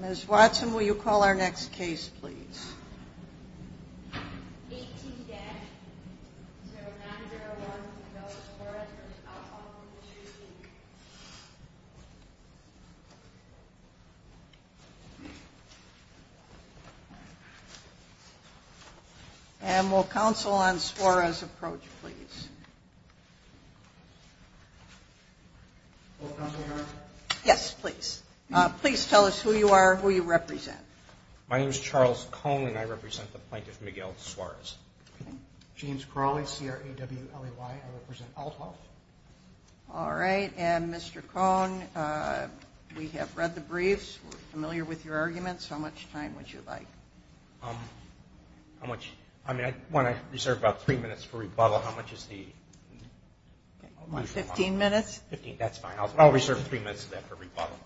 Ms. Watson, will you call our next case, please? And will counsel on Suarez approach, please? Yes, please. Please tell us who you are, who you represent. My name is Charles Cohn, and I represent the plaintiff, Miguel Suarez. James Crowley, C-R-A-W-L-E-Y. I represent Aithoff. All right. And, Mr. Cohn, we have read the briefs. We're familiar with your arguments. How much time would you like? How much? I mean, I want to reserve about three minutes for rebuttal. How much is the... Fifteen minutes? Fifteen. That's fine. I'll reserve three minutes of that for rebuttal.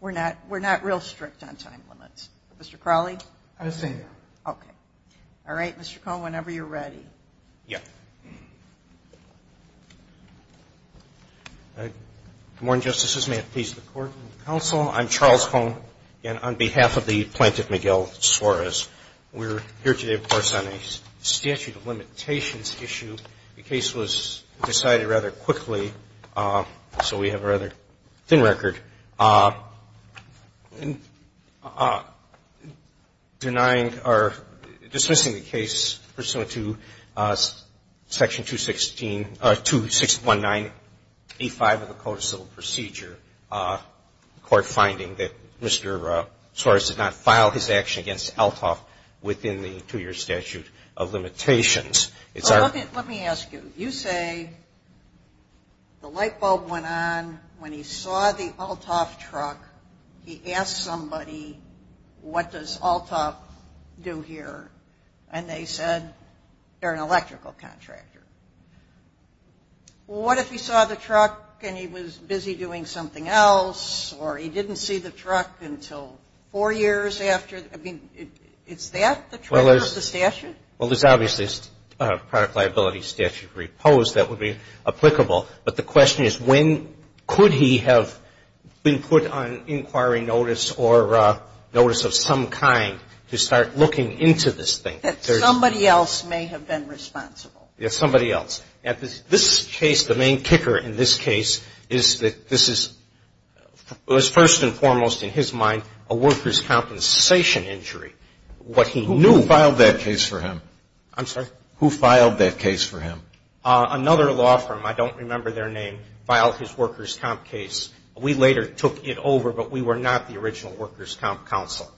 We're not real strict on time limits. Mr. Crowley? I was saying that. Okay. All right. Mr. Cohn, whenever you're ready. Yes. Good morning, Justices. May it please the Court and the Counsel. I'm Charles Cohn, again, on behalf of the plaintiff, Miguel Suarez. We're here today, of course, on a statute of limitations issue. The case was decided rather quickly, so we have a rather thin record. Denying or dismissing the case pursuant to Section 216 or 2619A5 of the Code of Civil Procedure, court finding that Mr. Suarez did not file his action against Althoff within the two-year statute of limitations. Let me ask you. You say the light bulb went on. When he saw the Althoff truck, he asked somebody, what does Althoff do here? And they said they're an electrical contractor. Well, what if he saw the truck and he was busy doing something else, or he didn't see the truck until four years after? I mean, is that the truth of the statute? Well, there's obviously a product liability statute reposed that would be applicable. But the question is, when could he have been put on inquiry notice or notice of some kind to start looking into this thing? That somebody else may have been responsible. Yes, somebody else. Now, this case, the main kicker in this case is that this is first and foremost in his mind a workers' compensation injury. What he knew ---- Who filed that case for him? I'm sorry? Who filed that case for him? Another law firm. I don't remember their name, filed his workers' comp case. We later took it over, but we were not the original workers' comp counsel.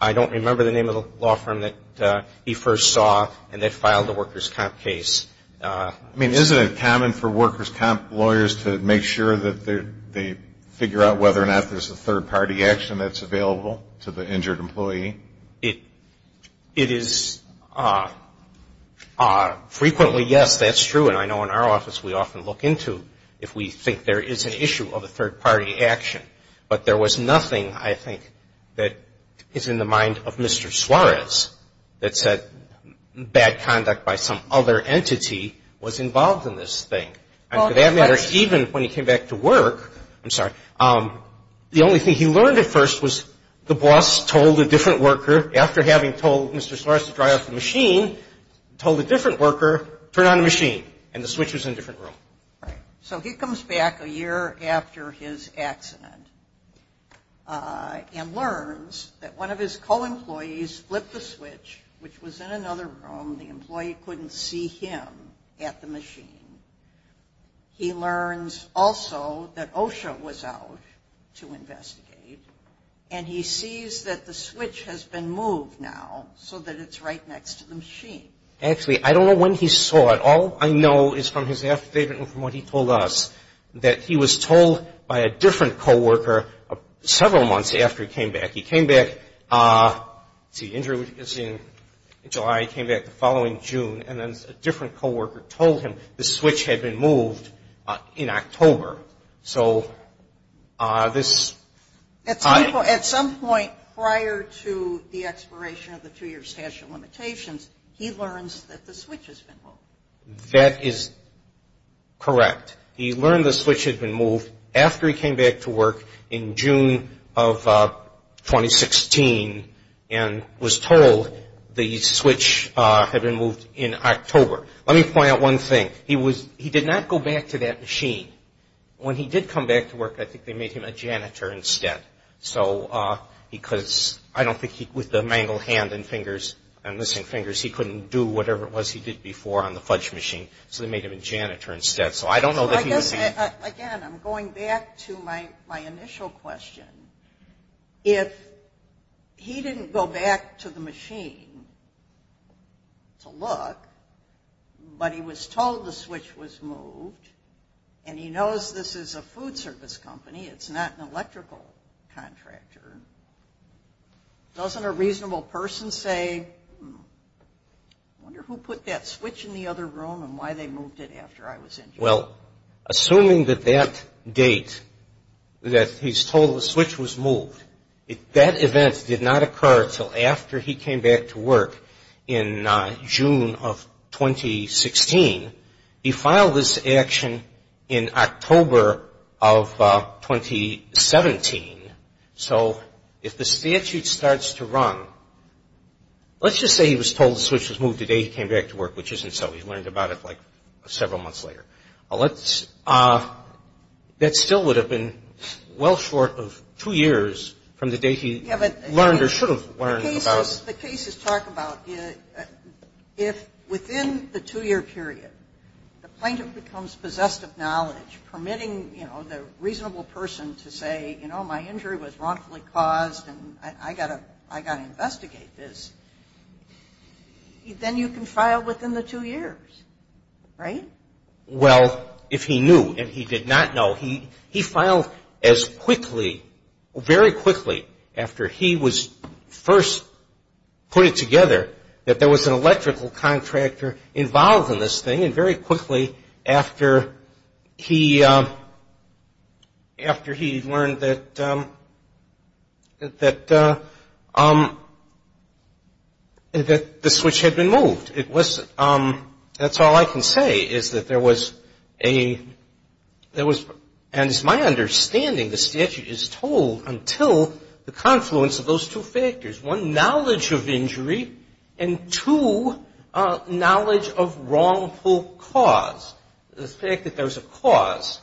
I don't remember the name of the law firm that he first saw and that filed the workers' comp case. I mean, isn't it common for workers' comp lawyers to make sure that they figure out whether or not there's a third-party action that's available to the injured employee? It is frequently yes, that's true. And I know in our office we often look into if we think there is an issue of a third-party action. But there was nothing, I think, that is in the mind of Mr. Suarez that said bad conduct by some other entity was involved in this thing. And for that matter, even when he came back to work ---- I'm sorry. The only thing he learned at first was the boss told a different worker, after having told Mr. Suarez to dry off the machine, told a different worker, turn on the machine, and the switch was in a different room. Right. So he comes back a year after his accident and learns that one of his co-employees flipped the switch, which was in another room. The employee couldn't see him at the machine. He learns also that OSHA was out to investigate, and he sees that the switch has been moved now so that it's right next to the machine. Actually, I don't know when he saw it. All I know is from his affidavit and from what he told us, that he was told by a different co-worker several months after he came back. He came back, let's see, in July, he came back the following June, and then a different co-worker told him the switch had been moved in October. So this ---- At some point prior to the expiration of the two-year statute of limitations, he learns that the switch has been moved. That is correct. He learned the switch had been moved after he came back to work in June of 2016 and was told the switch had been moved in October. Let me point out one thing. He did not go back to that machine. When he did come back to work, I think they made him a janitor instead, because I don't think with the mangled hand and fingers and missing fingers, he couldn't do whatever it was he did before on the fudge machine, so they made him a janitor instead. So I don't know if he was ---- Again, I'm going back to my initial question. If he didn't go back to the machine to look, but he was told the switch was moved and he knows this is a food service company, it's not an electrical contractor, doesn't a reasonable person say, I wonder who put that switch in the other room and why they moved it after I was injured? Well, assuming that that date that he's told the switch was moved, that event did not occur until after he came back to work in June of 2016, he filed this action in October of 2017. So if the statute starts to run, let's just say he was told the switch was moved the day he came back to work, which isn't so. He learned about it like several months later. That still would have been well short of two years from the date he learned or should have learned about it. Let's just talk about if within the two-year period the plaintiff becomes possessed of knowledge, permitting the reasonable person to say, you know, my injury was wrongfully caused and I've got to investigate this, then you can file within the two years, right? Well, if he knew and he did not know, he filed as quickly, very quickly after he was first put together that there was an electrical contractor involved in this thing and very quickly after he learned that the switch had been moved. That's all I can say is that there was a – and as my understanding, the statute is told until the confluence of those two factors, one, knowledge of injury and two, knowledge of wrongful cause. The fact that there was a cause,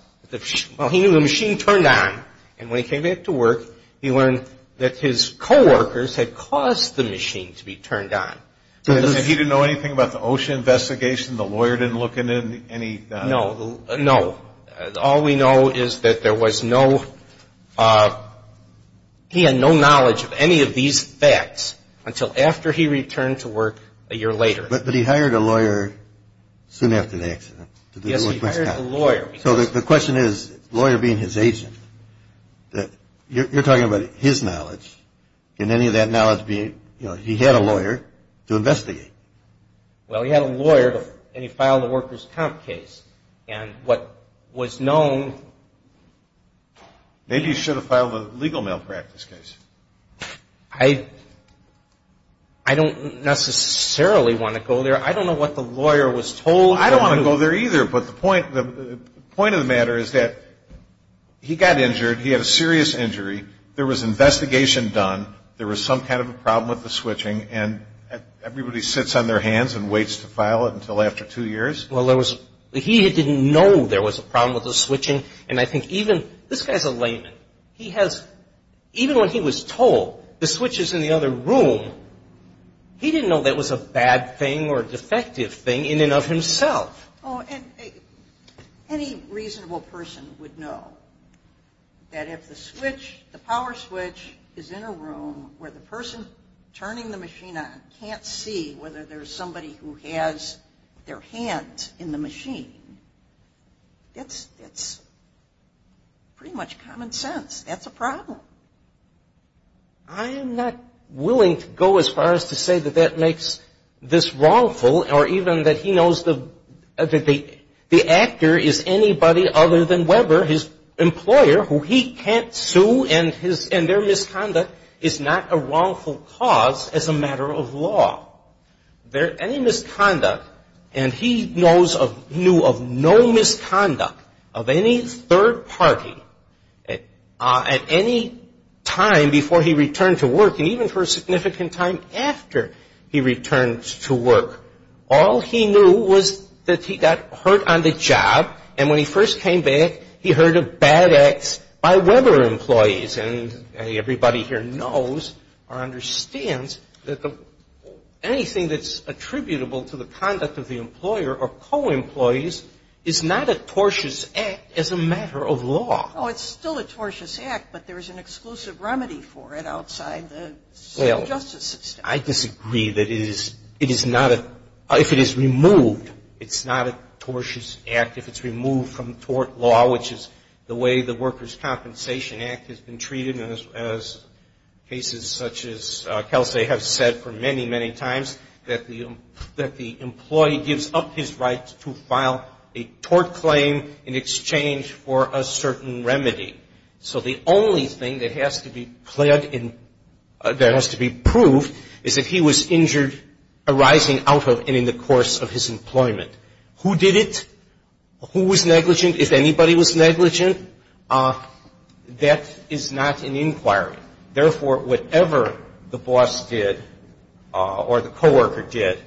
well, he knew the machine turned on and when he came back to work he learned that his coworkers had caused the machine to be turned on. And he didn't know anything about the OSHA investigation? The lawyer didn't look into any – No, no. All we know is that there was no – he had no knowledge of any of these facts until after he returned to work a year later. But he hired a lawyer soon after the accident. Yes, he hired a lawyer. So the question is, lawyer being his agent, you're talking about his knowledge. Can any of that knowledge be – he had a lawyer to investigate. Well, he had a lawyer and he filed a workers' comp case. And what was known – Maybe he should have filed a legal malpractice case. I don't necessarily want to go there. I don't know what the lawyer was told. I don't want to go there either, but the point of the matter is that he got injured, he had a serious injury. There was investigation done. There was some kind of a problem with the switching. And everybody sits on their hands and waits to file it until after two years. Well, there was – he didn't know there was a problem with the switching. And I think even – this guy's a layman. He has – even when he was told the switch is in the other room, he didn't know that was a bad thing or a defective thing in and of himself. Oh, and any reasonable person would know that if the switch, the power switch, is in a room where the person turning the machine on can't see whether there's somebody who has their hand in the machine, that's pretty much common sense. That's a problem. I am not willing to go as far as to say that that makes this wrongful or even that he knows that the actor is anybody other than Weber, his employer, who he can't sue and their misconduct is not a wrongful cause as a matter of law. Any misconduct, and he knew of no misconduct of any third party at any time before he returned to work. All he knew was that he got hurt on the job, and when he first came back, he heard of bad acts by Weber employees. And everybody here knows or understands that anything that's attributable to the conduct of the employer or co-employees is not a tortious act as a matter of law. Oh, it's still a tortious act, but there's an exclusive remedy for it outside the justice system. I disagree that it is not a, if it is removed, it's not a tortious act. If it's removed from tort law, which is the way the Workers' Compensation Act has been treated, as cases such as Kelsey have said for many, many times, that the employee gives up his right to file a tort claim in exchange for a certain remedy. So the only thing that has to be cleared and that has to be proved is that he was injured arising out of and in the course of his employment. Who did it? Who was negligent? If anybody was negligent, that is not an inquiry. Therefore, whatever the boss did or the co-worker did,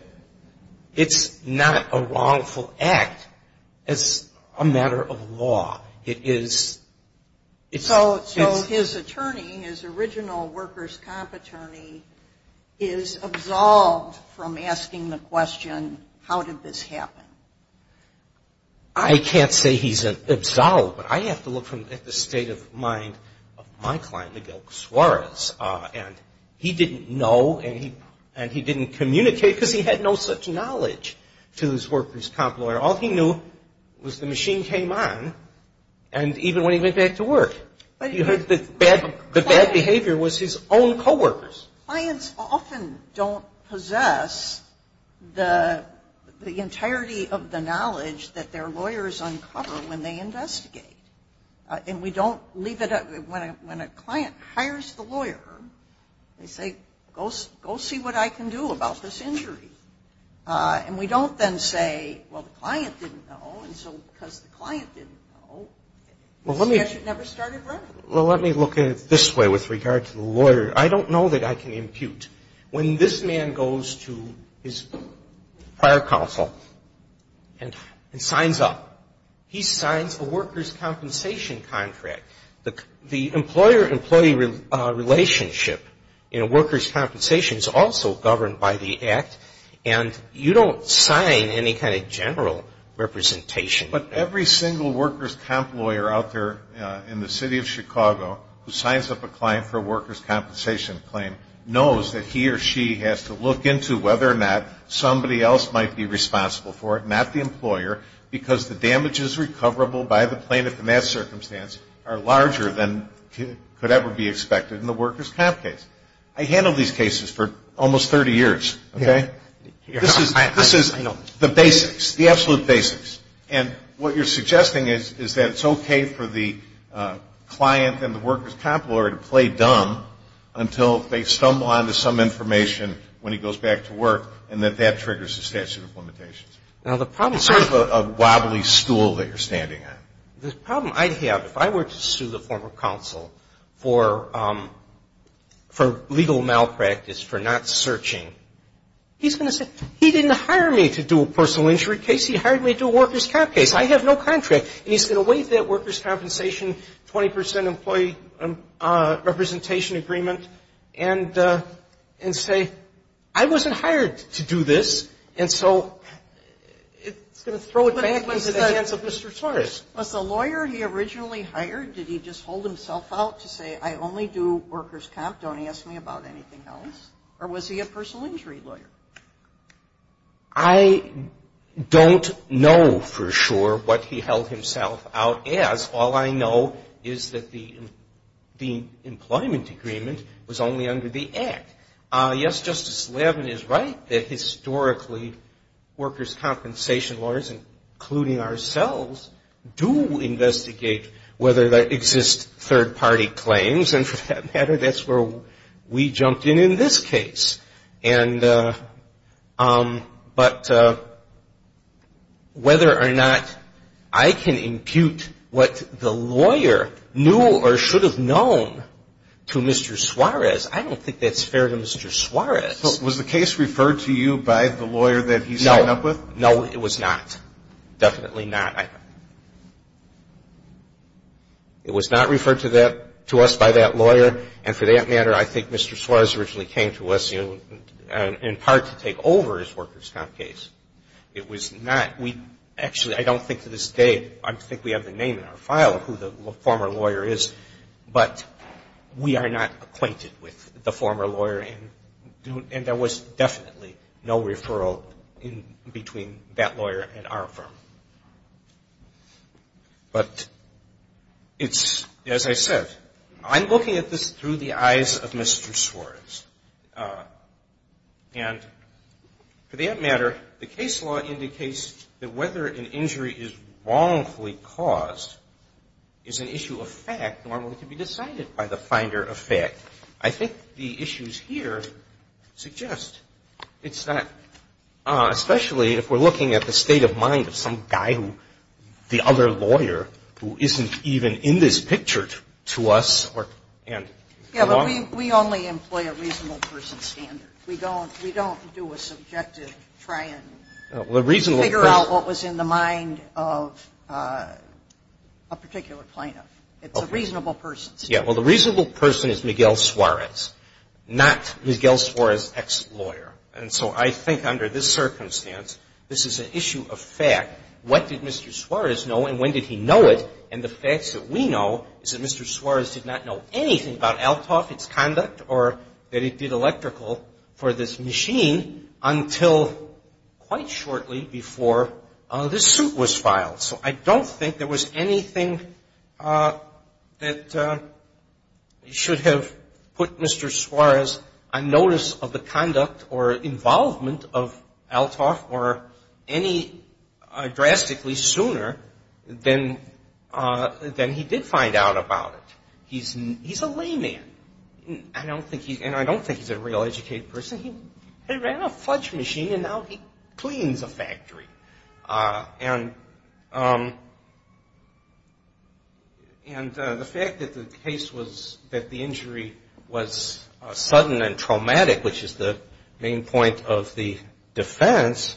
it's not a wrongful act as a matter of law. It is. So his attorney, his original workers' comp attorney, is absolved from asking the question, how did this happen? I can't say he's absolved, but I have to look at the state of mind of my client, Miguel Casuarez, and he didn't know and he didn't communicate because he had no such knowledge to his workers' comp lawyer. All he knew was the machine came on, and even when he went back to work, he heard that bad behavior was his own co-workers. Clients often don't possess the entirety of the knowledge that their lawyers uncover when they investigate. And we don't leave it up – when a client hires the lawyer, they say, go see what I can do about this injury. And we don't then say, well, the client didn't know, and so because the client didn't know, the investigation never started running. Well, let me look at it this way with regard to the lawyer. I don't know that I can impute. When this man goes to his prior counsel and signs up, he signs a workers' compensation contract. The employer-employee relationship in a workers' compensation is also governed by the Act, and you don't sign any kind of general representation. But every single workers' comp lawyer out there in the city of Chicago who signs up a client for a workers' compensation claim knows that he or she has to look into whether or not somebody else might be responsible for it, not the employer, because the damages recoverable by the plaintiff in that circumstance are larger than could ever be expected in the workers' comp case. I handled these cases for almost 30 years. Okay? This is the basics, the absolute basics. And what you're suggesting is that it's okay for the client and the workers' comp lawyer to play dumb until they stumble onto some information when he goes back to work and that that triggers the statute of limitations. Now, the problem is Sort of a wobbly stool that you're standing on. The problem I have, if I were to sue the former counsel for legal malpractice, for not searching, he's going to say, he didn't hire me to do a personal injury case. He hired me to do a workers' comp case. I have no contract. And he's going to waive that workers' compensation 20 percent employee representation agreement and say, I wasn't hired to do this. And so it's going to throw it back into the hands of Mr. Torres. Was the lawyer he originally hired, did he just hold himself out to say, I only do workers' comp. Don't ask me about anything else? Or was he a personal injury lawyer? I don't know for sure what he held himself out as. All I know is that the employment agreement was only under the Act. Yes, Justice Levin is right that historically workers' compensation lawyers, including ourselves, do investigate whether there exist third-party claims. And for that matter, that's where we jumped in in this case. And but whether or not I can impute what the lawyer knew or should have known to Mr. Suarez, I don't think that's fair to Mr. Suarez. But was the case referred to you by the lawyer that he signed up with? No. No, it was not. Definitely not. It was not referred to that to us by that lawyer. And for that matter, I think Mr. Suarez originally came to us, you know, in part to take over his workers' comp case. It was not. We actually, I don't think to this day, I think we have the name in our file of who the former lawyer is. But we are not acquainted with the former lawyer. And there was definitely no referral in between that lawyer and our firm. But it's, as I said, I'm looking at this through the eyes of Mr. Suarez. And for that matter, the case law indicates that whether an injury is wrongfully caused is an issue of fact, normally can be decided by the finder of fact. I think the issues here suggest it's not, especially if we're looking at the state of mind of some guy who, the other lawyer, who isn't even in this picture to us. Yeah, but we only employ a reasonable person standard. We don't do a subjective try and figure out what was in the mind of a particular plaintiff. It's a reasonable person standard. Yeah. Well, the reasonable person is Miguel Suarez, not Miguel Suarez, ex-lawyer. And so I think under this circumstance, this is an issue of fact. What did Mr. Suarez know and when did he know it? And the facts that we know is that Mr. Suarez did not know anything about ALTOF, its conduct, or that it did electrical for this machine until quite shortly before this suit was filed. So I don't think there was anything that should have put Mr. Suarez on notice of the conduct or involvement of ALTOF or any drastically sooner than he did find out about it. He's a layman. And I don't think he's a real educated person. He ran a fudge machine and now he cleans a factory. And the fact that the case was that the injury was sudden and traumatic, which is the main point of the defense,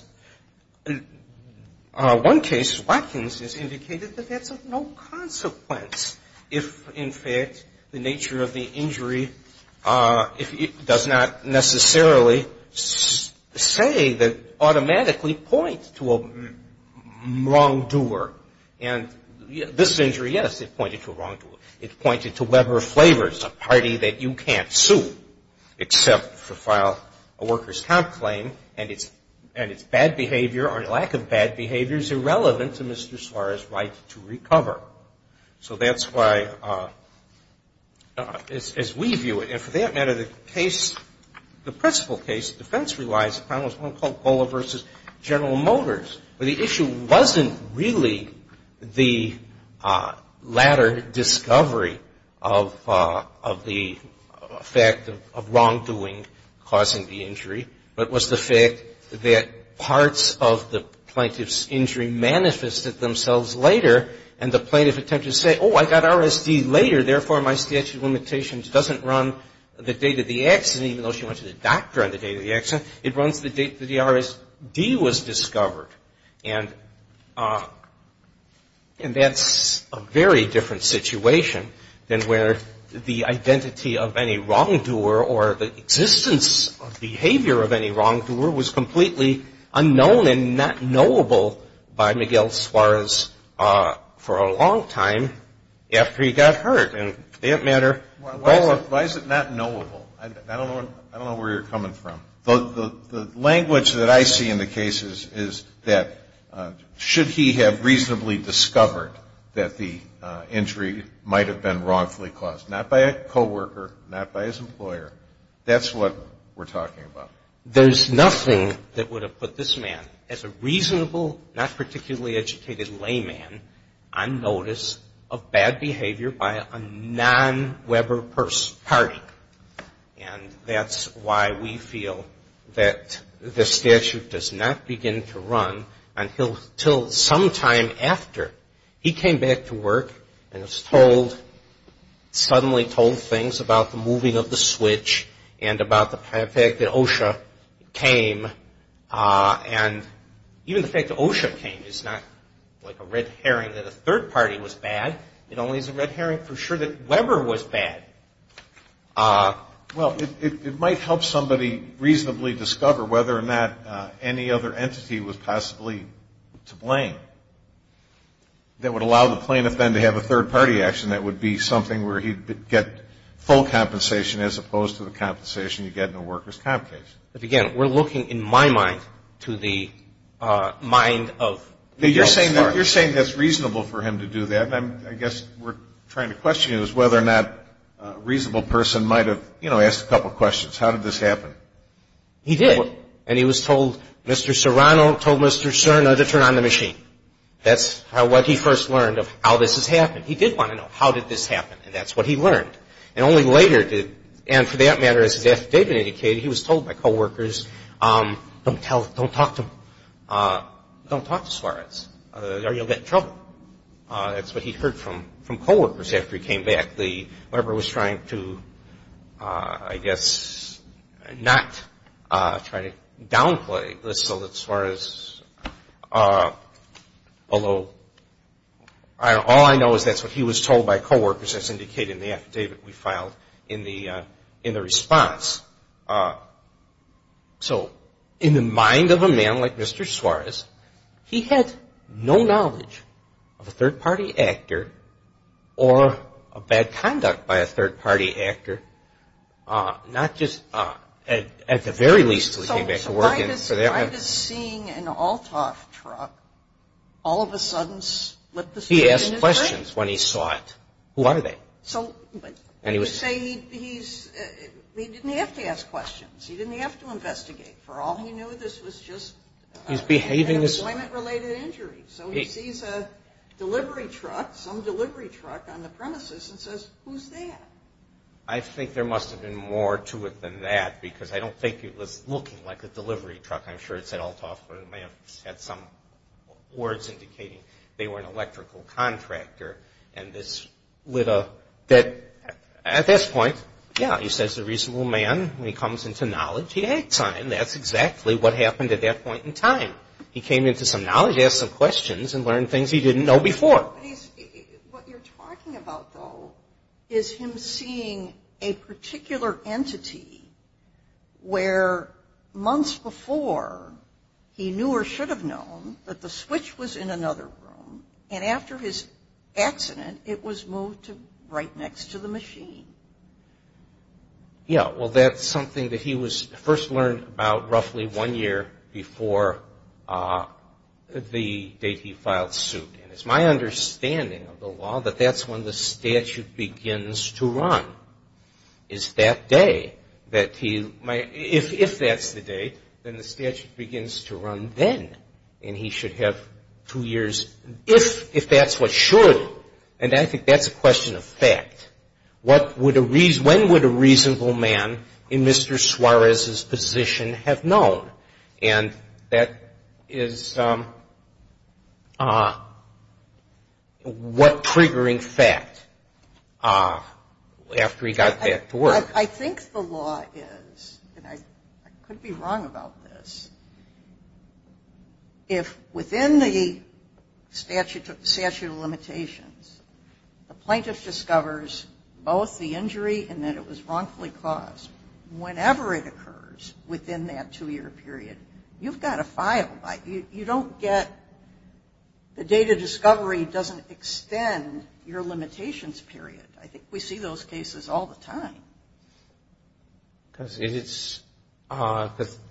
one case Watkins has indicated that that's of no consequence if, in fact, the nature of the injury does not necessarily say that automatically points to a wrongdoer. And this injury, yes, it pointed to a wrongdoer. It pointed to Weber Flavors, a party that you can't sue except to file a worker's comp claim. And its bad behavior or lack of bad behavior is irrelevant to Mr. Suarez's right to recover. So that's why, as we view it, and for that matter, the case, the principal case, the defense relies upon was one called of the fact of wrongdoing causing the injury, but was the fact that parts of the plaintiff's injury manifested themselves later, and the plaintiff attempted to say, oh, I got RSD later, therefore my statute of limitations doesn't run the date of the accident, even though she went to the doctor on the date of the accident. It runs the date that the RSD was discovered. And that's a very different situation than where the identity of any wrongdoer or the existence of behavior of any wrongdoer was completely unknown and not knowable by Miguel Suarez for a long time after he got hurt. And for that matter, why is it not knowable? I don't know where you're coming from. The language that I see in the case is that should he have reasonably discovered that the injury might have been wrongfully caused, not by a coworker, not by his employer, that's what we're talking about. There's nothing that would have put this man, as a reasonable, not particularly educated layman, on notice of bad behavior by a non-Weber party. And that's why we feel that the statute does not begin to run until sometime after he came back to work and was told, suddenly told things about the moving of the switch and about the fact that OSHA came and even the fact that OSHA came is not like a red herring that a third party was bad. It only is a red herring for sure that Weber was bad. Well, it might help somebody reasonably discover whether or not any other entity was possibly to blame that would allow the plaintiff then to have a third party action that would be something where he'd get full compensation as opposed to the compensation you get in a worker's comp case. But again, we're looking, in my mind, to the mind of Miguel Suarez. You're saying that's reasonable for him to do that, and I guess we're trying to question whether or not a reasonable person might have, you know, asked a couple of questions. How did this happen? He did. And he was told, Mr. Serrano told Mr. Serna to turn on the machine. That's what he first learned of how this has happened. He did want to know how did this happen, and that's what he learned. And only later did, and for that matter, as his affidavit indicated, he was told by coworkers, don't talk to him. Don't talk to Suarez. Or you'll get in trouble. That's what he heard from coworkers after he came back. The lawyer was trying to, I guess, not try to downplay this so that Suarez, although all I know is that's what he was told by coworkers, as indicated in the affidavit we filed in the response. So in the mind of a man like Mr. Suarez, he had no knowledge of a third-party actor or of bad conduct by a third-party actor, not just at the very least until he came back to work. So why does seeing an Althoff truck all of a sudden slip the screen in his face? He asked questions when he saw it. Who are they? So you say he didn't have to ask questions. He didn't have to investigate. For all he knew, this was just an employment-related injury. So he sees a delivery truck, some delivery truck on the premises and says, who's that? I think there must have been more to it than that, because I don't think it was looking like a delivery truck. I'm sure it said Althoff, but it may have had some words indicating they were an electrical contractor. At this point, yeah, he says he's a reasonable man. When he comes into knowledge, he acts on it, and that's exactly what happened at that point in time. He came into some knowledge, asked some questions, and learned things he didn't know before. What you're talking about, though, is him seeing a particular entity where months before he knew or should have known that the switch was in another room, and after his accident, it was moved to right next to the machine. Yeah, well, that's something that he first learned about roughly one year before the date he filed suit. And it's my understanding of the law that that's when the statute begins to run, is that day that he might If that's the date, then the statute begins to run then, and he should have two years. If that's what should, and I think that's a question of fact, when would a reasonable man in Mr. Suarez's position have known? And that is what triggering fact after he got back to work. I think the law is, and I could be wrong about this, if within the statute of limitations, the plaintiff discovers both the injury and that it was wrongfully caused, whenever it occurs within that two-year period, you've got to file. You don't get the date of discovery doesn't extend your limitations period. I think we see those cases all the time. Because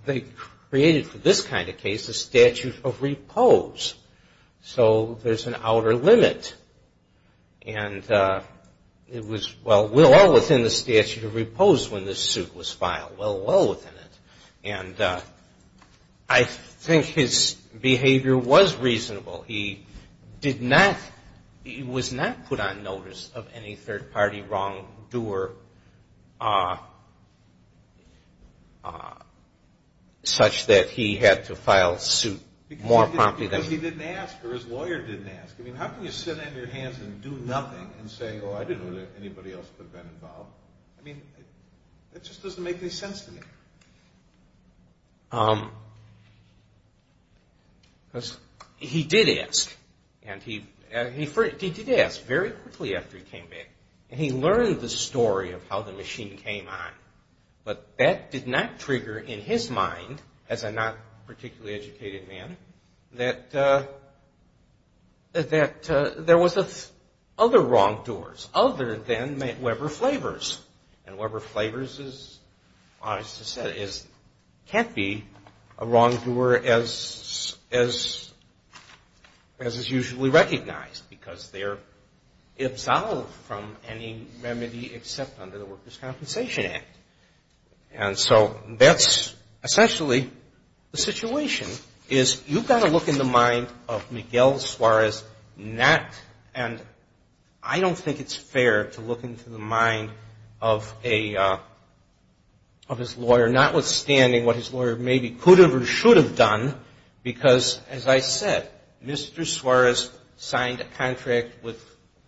they created for this kind of case a statute of repose. So there's an outer limit. And it was well within the statute of repose when this suit was filed, well within it. And I think his behavior was reasonable. He did not, he was not put on notice of any third-party wrongdoer such that he had to file a suit more promptly than he did. Because he didn't ask, or his lawyer didn't ask. I mean, how can you sit on your hands and do nothing and say, oh, I didn't know that anybody else could have been involved? I mean, that just doesn't make any sense to me. Because he did ask. And he did ask very quickly after he came back. And he learned the story of how the machine came on. But that did not trigger in his mind, as a not particularly educated man, that there was other wrongdoers other than Weber Flavors. And Weber Flavors, as Augusta said, can't be a wrongdoer as is usually recognized. Because they're absolved from any remedy except under the Workers' Compensation Act. And so that's essentially the situation. You've got to look in the mind of Miguel Suarez not, and I don't think it's fair to look into the mind of Miguel Suarez. But look in the mind of his lawyer, notwithstanding what his lawyer maybe could have or should have done. Because, as I said, Mr. Suarez signed a contract with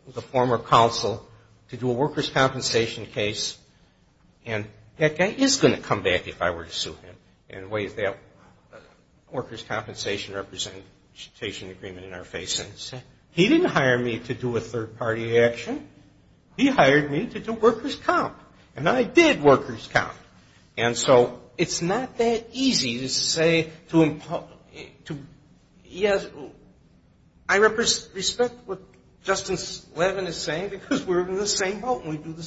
the former counsel to do a workers' compensation case. And that guy is going to come back if I were to sue him in ways that workers' compensation representation agreement in our face. He didn't hire me to do a third-party action. He hired me to do workers' comp. And I did workers' comp. And so it's not that easy to say to him, yes, I respect what Justice Levin is saying because we're in the same boat and we do the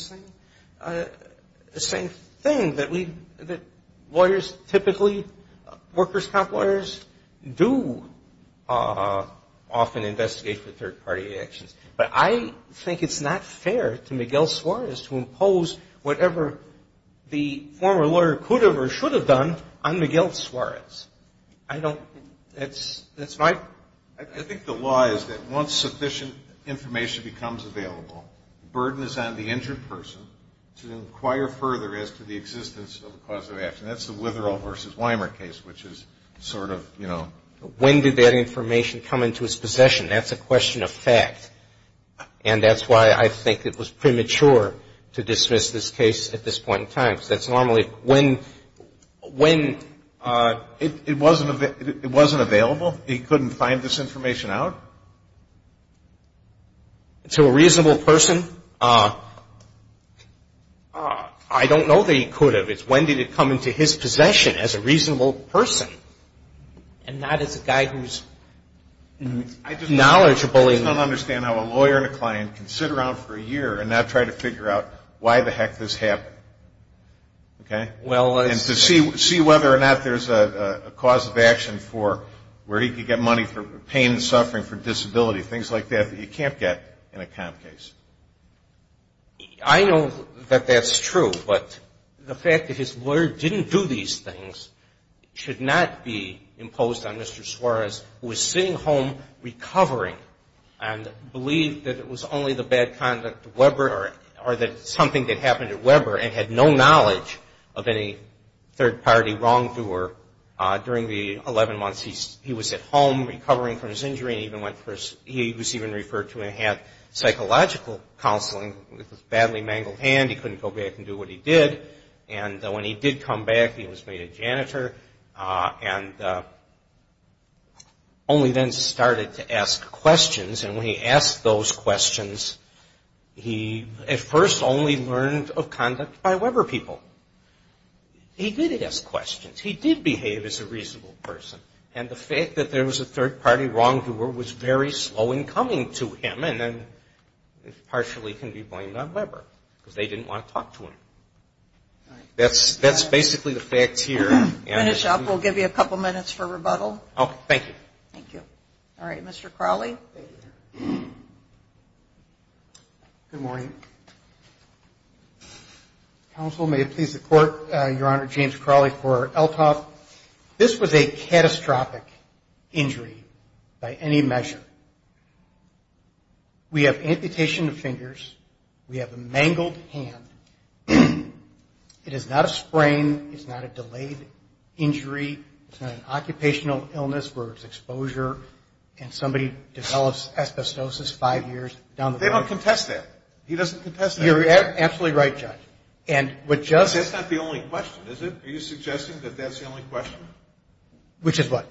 same thing that lawyers typically, workers' comp lawyers, do often investigate for third-party actions. But I think it's not fair to Miguel Suarez to impose whatever the former lawyer could have or should have done on Miguel Suarez. I don't, that's my. I think the law is that once sufficient information becomes available, the burden is on the injured person to inquire further as to the existence of a cause of action. That's the Witherall v. Weimer case, which is sort of, you know. When did that information come into his possession? That's a question of fact. And that's why I think it was premature to dismiss this case at this point in time. Because that's normally when. It wasn't available? He couldn't find this information out? To a reasonable person? I don't know that he could have. It's when did it come into his possession as a reasonable person and not as a guy who's knowledgeable in. I just don't understand how a lawyer and a client can sit around for a year and not try to figure out why the heck this happened, okay? And to see whether or not there's a cause of action for where he could get money for pain and suffering for disability, things like that, that you can't get in a comp case. I know that that's true, but the fact that his lawyer didn't do these things should not be imposed on Mr. Suarez, who is sitting home recovering. And believed that it was only the bad conduct of Weber or that something had happened to Weber and had no knowledge of any third-party wrongdoer during the 11 months he was at home recovering from his injury. He was even referred to and had psychological counseling with a badly mangled hand. He couldn't go back and do what he did. And when he did come back, he was made a janitor and only then started to ask questions. And when he asked those questions, he at first only learned of conduct by Weber people. He did ask questions. He did behave as a reasonable person. And the fact that there was a third-party wrongdoer was very slow in coming to him and partially can be blamed on Weber because they didn't want to talk to him. That's basically the facts here. Thank you. All right. Mr. Crawley. Good morning. Counsel, may it please the Court, Your Honor, James Crawley for Elthoff. This was a catastrophic injury by any measure. We have amputation of fingers. We have a mangled hand. It is not a sprain. It's not a delayed injury. It's not an occupational illness where it's exposure and somebody develops asbestosis five years down the road. They don't contest that. He doesn't contest that. You're absolutely right, Judge. That's not the only question, is it? Are you suggesting that that's the only question? Which is what?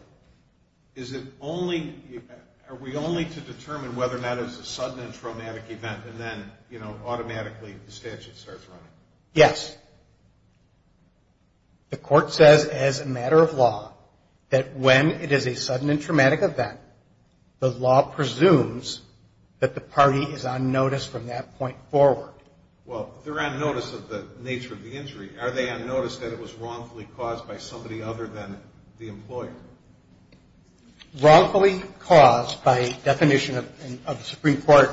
Are we only to determine whether or not it's a sudden and traumatic event and then, you know, automatically the statute starts running? Yes. The Court says as a matter of law that when it is a sudden and traumatic event, the law presumes that the party is on notice from that point forward. Well, they're on notice of the nature of the injury. Are they on notice that it was wrongfully caused by somebody other than the employer? Wrongfully caused by definition of the Supreme Court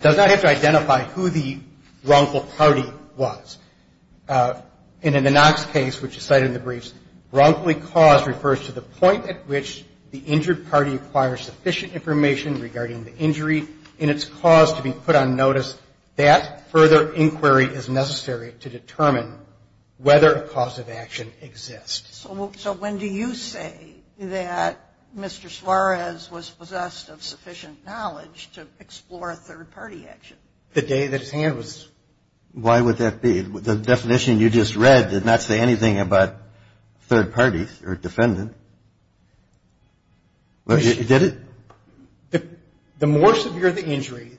does not have to identify who the wrongful party was. And in the Knox case, which is cited in the briefs, wrongfully caused refers to the point at which the injured party acquires sufficient information regarding the injury and its cause to be put on notice. That further inquiry is necessary to determine whether a cause of action exists. So when do you say that Mr. Suarez was possessed of sufficient knowledge to explore a third party action? The day that his hand was. Why would that be? The definition you just read did not say anything about third parties or defendant. Did it? The more severe the injury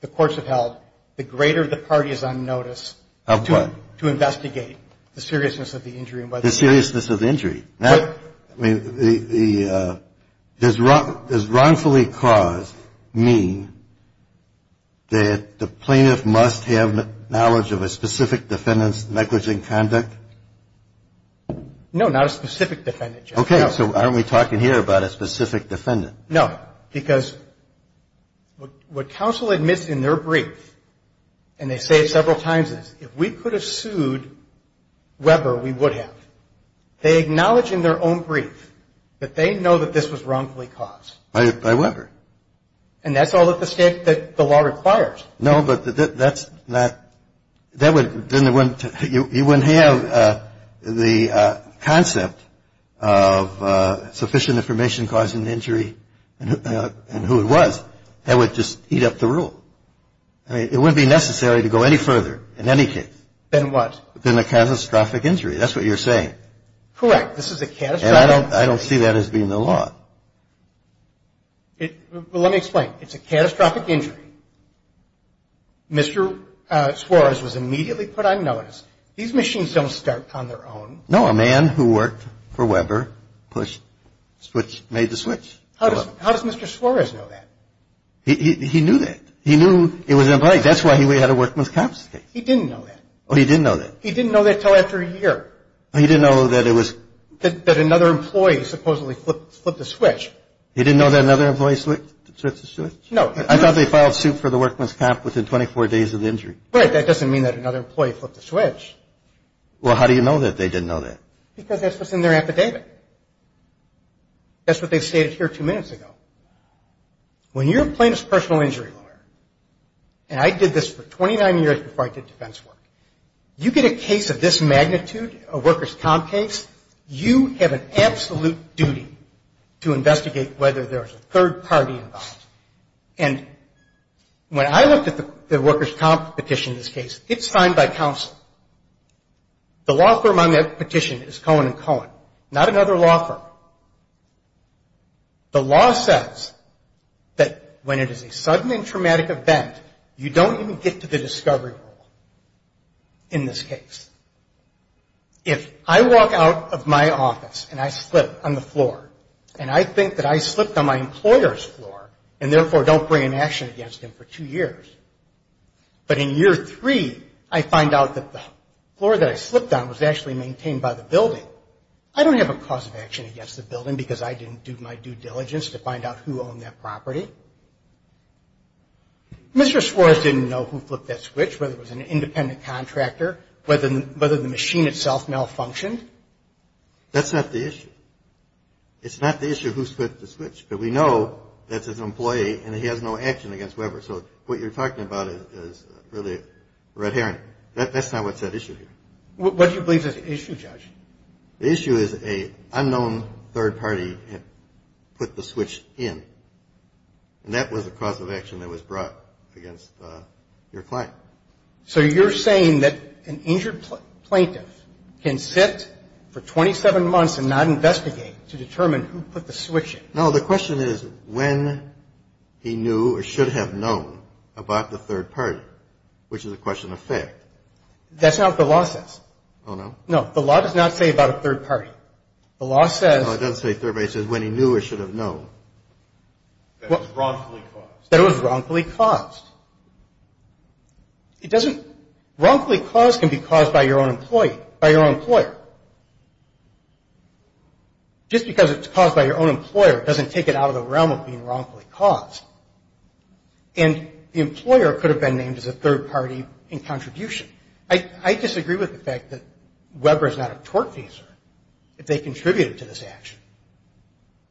the courts have held, the greater the party is on notice. Of what? To investigate the seriousness of the injury. The seriousness of the injury. Does wrongfully caused mean that the plaintiff must have knowledge of a specific defendant's negligent conduct? No, not a specific defendant. Okay, so why aren't we talking here about a specific defendant? No, because what counsel admits in their brief, and they say it several times, is if we could have sued Weber, we would have. They acknowledge in their own brief that they know that this was wrongfully caused. By Weber. And that's all that the State, that the law requires. No, but that's not, that would, then it wouldn't, you wouldn't have the concept of sufficient information causing the injury and who it was. That would just heat up the rule. I mean, it wouldn't be necessary to go any further in any case. Than what? Than a catastrophic injury. That's what you're saying. Correct, this is a catastrophic. And I don't see that as being the law. Let me explain. It's a catastrophic injury. Mr. Suarez was immediately put on notice. These machines don't start on their own. No, a man who worked for Weber pushed, made the switch. How does Mr. Suarez know that? He knew that. He knew it was an employee. Well, how do you know that they didn't know that? Because that's what's in their affidavit. That's what they stated here two minutes ago. When you're a plaintiff's personal injury lawyer, and I did this for 29 years before I did defense work, you get a case of this magnitude, a workers' comp case, you have an absolute duty to investigate whether there's a third party involved. And when I looked at the workers' comp petition in this case, it's signed by counsel. The law firm on that petition is Cohen & Cohen, not another law firm. The law says that when it is a sudden and traumatic event, you don't even get to the discovery rule in this case. If I walk out of my office and I slip on the floor, and I think that I slipped on my employer's floor in this case, and therefore don't bring an action against him for two years, but in year three, I find out that the floor that I slipped on was actually maintained by the building, I don't have a cause of action against the building because I didn't do my due diligence to find out who owned that property. Mr. Suarez didn't know who flipped that switch, whether it was an independent contractor, whether the machine itself malfunctioned. That's not the issue. It's not the issue of who flipped the switch, but we know that it's an employee and he has no action against Weber. So what you're talking about is really a red herring. That's not what's at issue here. The issue is an unknown third party put the switch in. And that was a cause of action that was brought against your client. So you're saying that an injured plaintiff can sit for 27 months and not investigate to determine who put the switch in? No, the question is when he knew or should have known about the third party, which is a question of fact. That's not what the law says. Oh, no? No, the law does not say about a third party. No, it doesn't say third party. It says when he knew or should have known that it was wrongfully caused. Wrongfully caused can be caused by your own employer. Just because it's caused by your own employer doesn't take it out of the realm of being wrongfully caused. And the employer could have been named as a third party in contribution. I disagree with the fact that Weber is not a tortfeasor if they contributed to this action.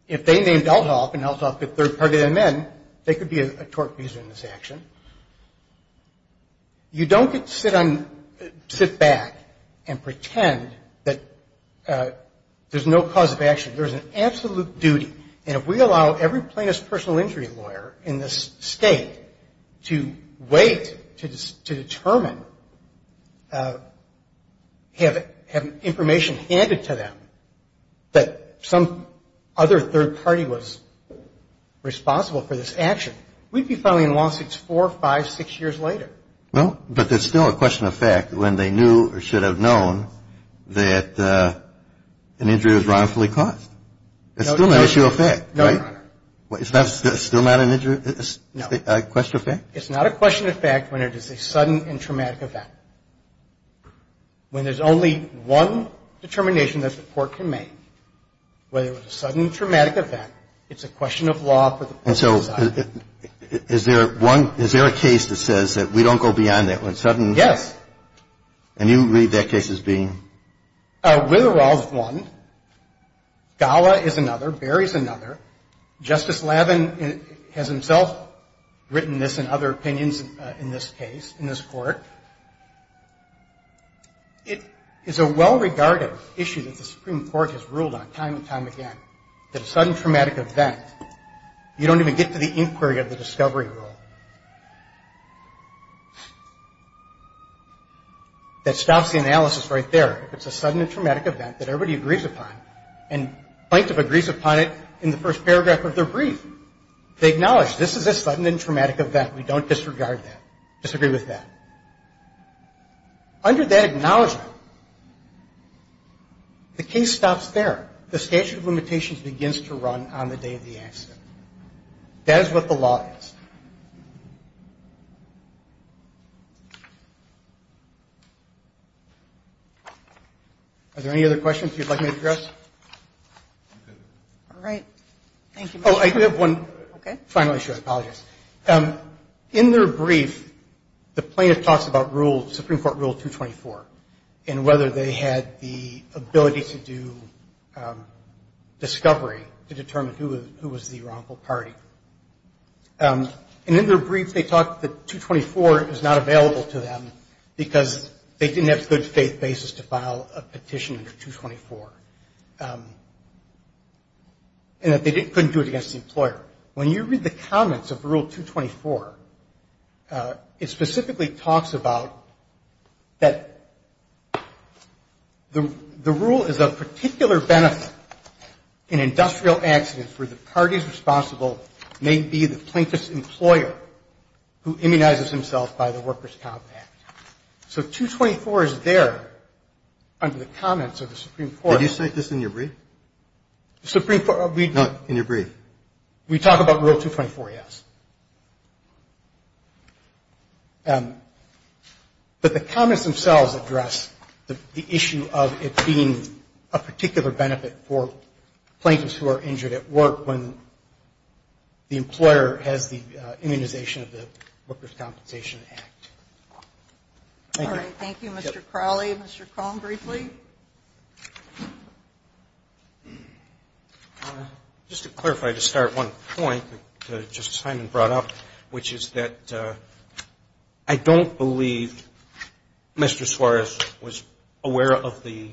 If they named Elthoff and Elthoff could third party them in, they could be a tortfeasor in this action. You don't sit back and pretend that there's no cause of action. There's an absolute duty, and if we allow every plaintiff's personal injury lawyer in this state to wait to determine, have information handed to them that some other third party was responsible for this action, we'd be filing lawsuits four, five, six years later. Well, but there's still a question of fact when they knew or should have known that an injury was wrongfully caused. It's still an issue of fact, right? It's still not a question of fact? It's not a question of fact when it is a sudden and traumatic event. When there's only one determination that the court can make, whether it was a sudden traumatic event, it's a question of law for the court to decide. And so is there a case that says that we don't go beyond that? Yes. And you read that case as being? Withdrawal is one. Gala is another. Barry is another. Justice Lavin has himself written this and other opinions in this case, in this court. It is a well-regarded issue that the Supreme Court has ruled on time and time again, that a sudden traumatic event, you don't even get to the inquiry of the discovery rule. That stops the analysis right there. If it's a sudden and traumatic event that everybody agrees upon and plaintiff agrees upon it in the first paragraph of their brief, they acknowledge this is a sudden and traumatic event. We don't disregard that, disagree with that. Under that acknowledgement, the case stops there. The statute of limitations begins to run on the day of the accident. That is what the law is. Are there any other questions you'd like me to address? I do have one final issue, I apologize. In their brief, the plaintiff talks about Supreme Court Rule 224 and whether they had the ability to do discovery to determine who was the wrongful party. And in their brief, they talk that 224 is not available to them because they didn't have good faith basis to file a petition under 224. And that they couldn't do it against the employer. When you read the comments of Rule 224, it specifically talks about that the rule is of particular benefit in industrial accidents where the parties responsible may be the plaintiff's employer who immunizes himself by the workers' compact. So 224 is there under the comments of the Supreme Court. Did you cite this in your brief? No, in your brief. We talk about Rule 224, yes. But the comments themselves address the issue of it being a particular benefit for plaintiffs who are injured at work when the employer has the immunization of the Workers' Compensation Act. Thank you. All right. Thank you, Mr. Crowley. Mr. Cohn, briefly. Just to clarify, to start, one point that Justice Hyman brought up, which is that I don't believe Mr. Suarez was aware of the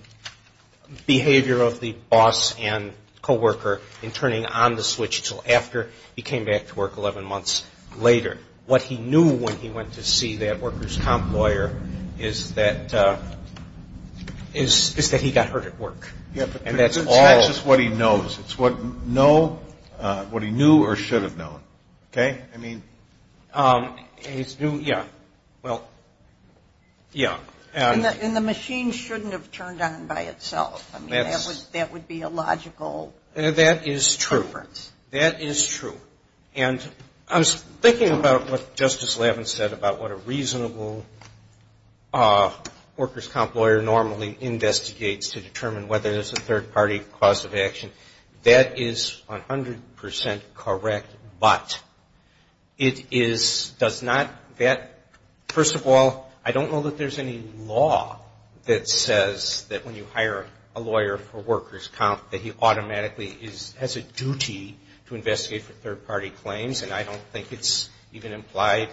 behavior of the boss and co-worker is that he got hurt at work. It's not just what he knows. It's what he knew or should have known. And the machine shouldn't have turned on by itself. That would be a logical difference. That is true. And I was thinking about what Justice Lavins said about what a reasonable workers' comp lawyer normally investigates to determine whether there's a third party cause of action. That is 100% correct, but it is does not that first of all, I don't know that there's any law that says that when you hire a lawyer for workers' comp that he automatically has a duty to investigate for third party claims. And I don't think it's even implied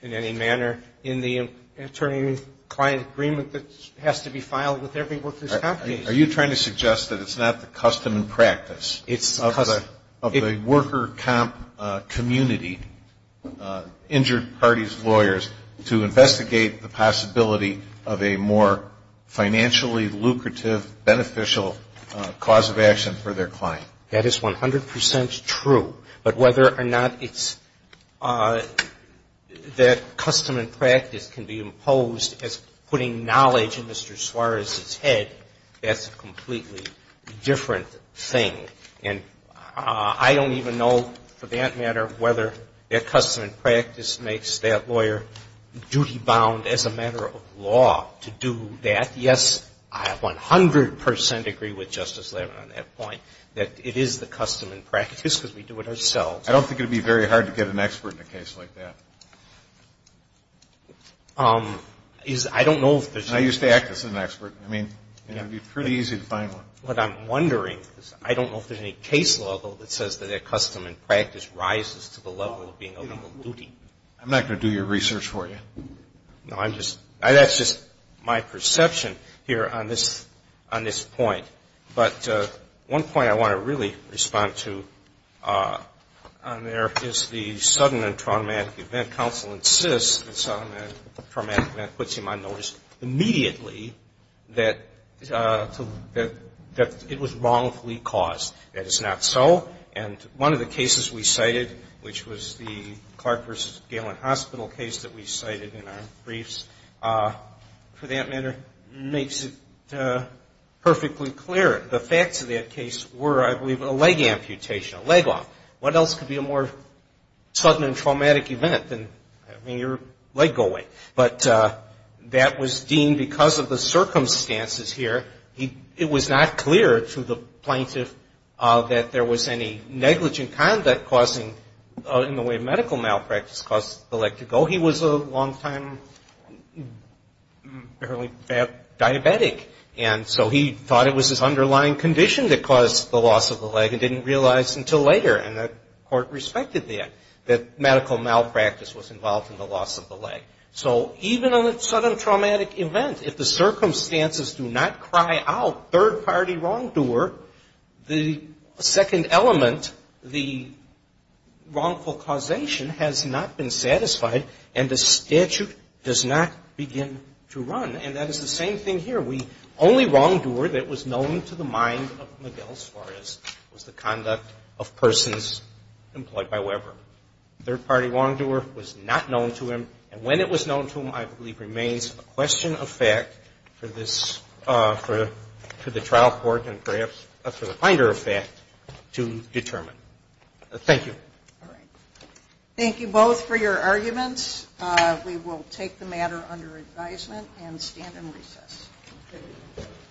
in any manner in the attorney-client agreement that has to be filed with every workers' comp agency. Are you trying to suggest that it's not the custom and practice of the worker comp community, injured parties' lawyers, to investigate the possibility of a more financially lucrative, beneficial cause of action for their client? That is 100% true. But whether or not it's that custom and practice can be imposed as putting knowledge in Mr. Suarez's head, that's a completely different thing. And I don't even know, for that matter, whether that custom and practice makes that lawyer duty-bound as a matter of law to do that. Yes, I 100% agree with Justice Lavin on that point, that it is the custom and practice because we do it ourselves. I don't think it would be very hard to get an expert in a case like that. I don't know if there's any. I used to act as an expert. I mean, it would be pretty easy to find one. What I'm wondering is I don't know if there's any case law, though, that says that a custom and practice rises to the level of being a legal duty. I'm not going to do your research for you. No. That's just my perception here on this point. But one point I want to really respond to on there is the sudden and traumatic event. And counsel insists that the sudden and traumatic event puts him on notice immediately that it was wrongfully caused. That it's not so. And one of the cases we cited, which was the Clark versus Galen Hospital case that we cited in our briefs, for that matter, makes it perfectly clear. The facts of that case were, I believe, a leg amputation, a leg off. What else could be a more sudden and traumatic event than having your leg go away? But that was deemed because of the circumstances here. It was not clear to the plaintiff that there was any negligent conduct causing in the way of medical malpractice caused the leg to go. He was a long-time diabetic. And so he thought it was his underlying condition that caused the loss of the And it was later, and the court respected that, that medical malpractice was involved in the loss of the leg. So even on a sudden traumatic event, if the circumstances do not cry out, third-party wrongdoer, the second element, the wrongful causation has not been satisfied and the statute does not begin to run. And that is the same thing here. The only wrongdoer that was known to the mind of Miguel Suarez was the conduct of persons employed by Weber. Third-party wrongdoer was not known to him. And when it was known to him, I believe, remains a question of fact for the trial court and perhaps for the finder of fact to determine. Thank you. All right. Thank you both for your arguments. We will take the matter under advisement and stand in recess.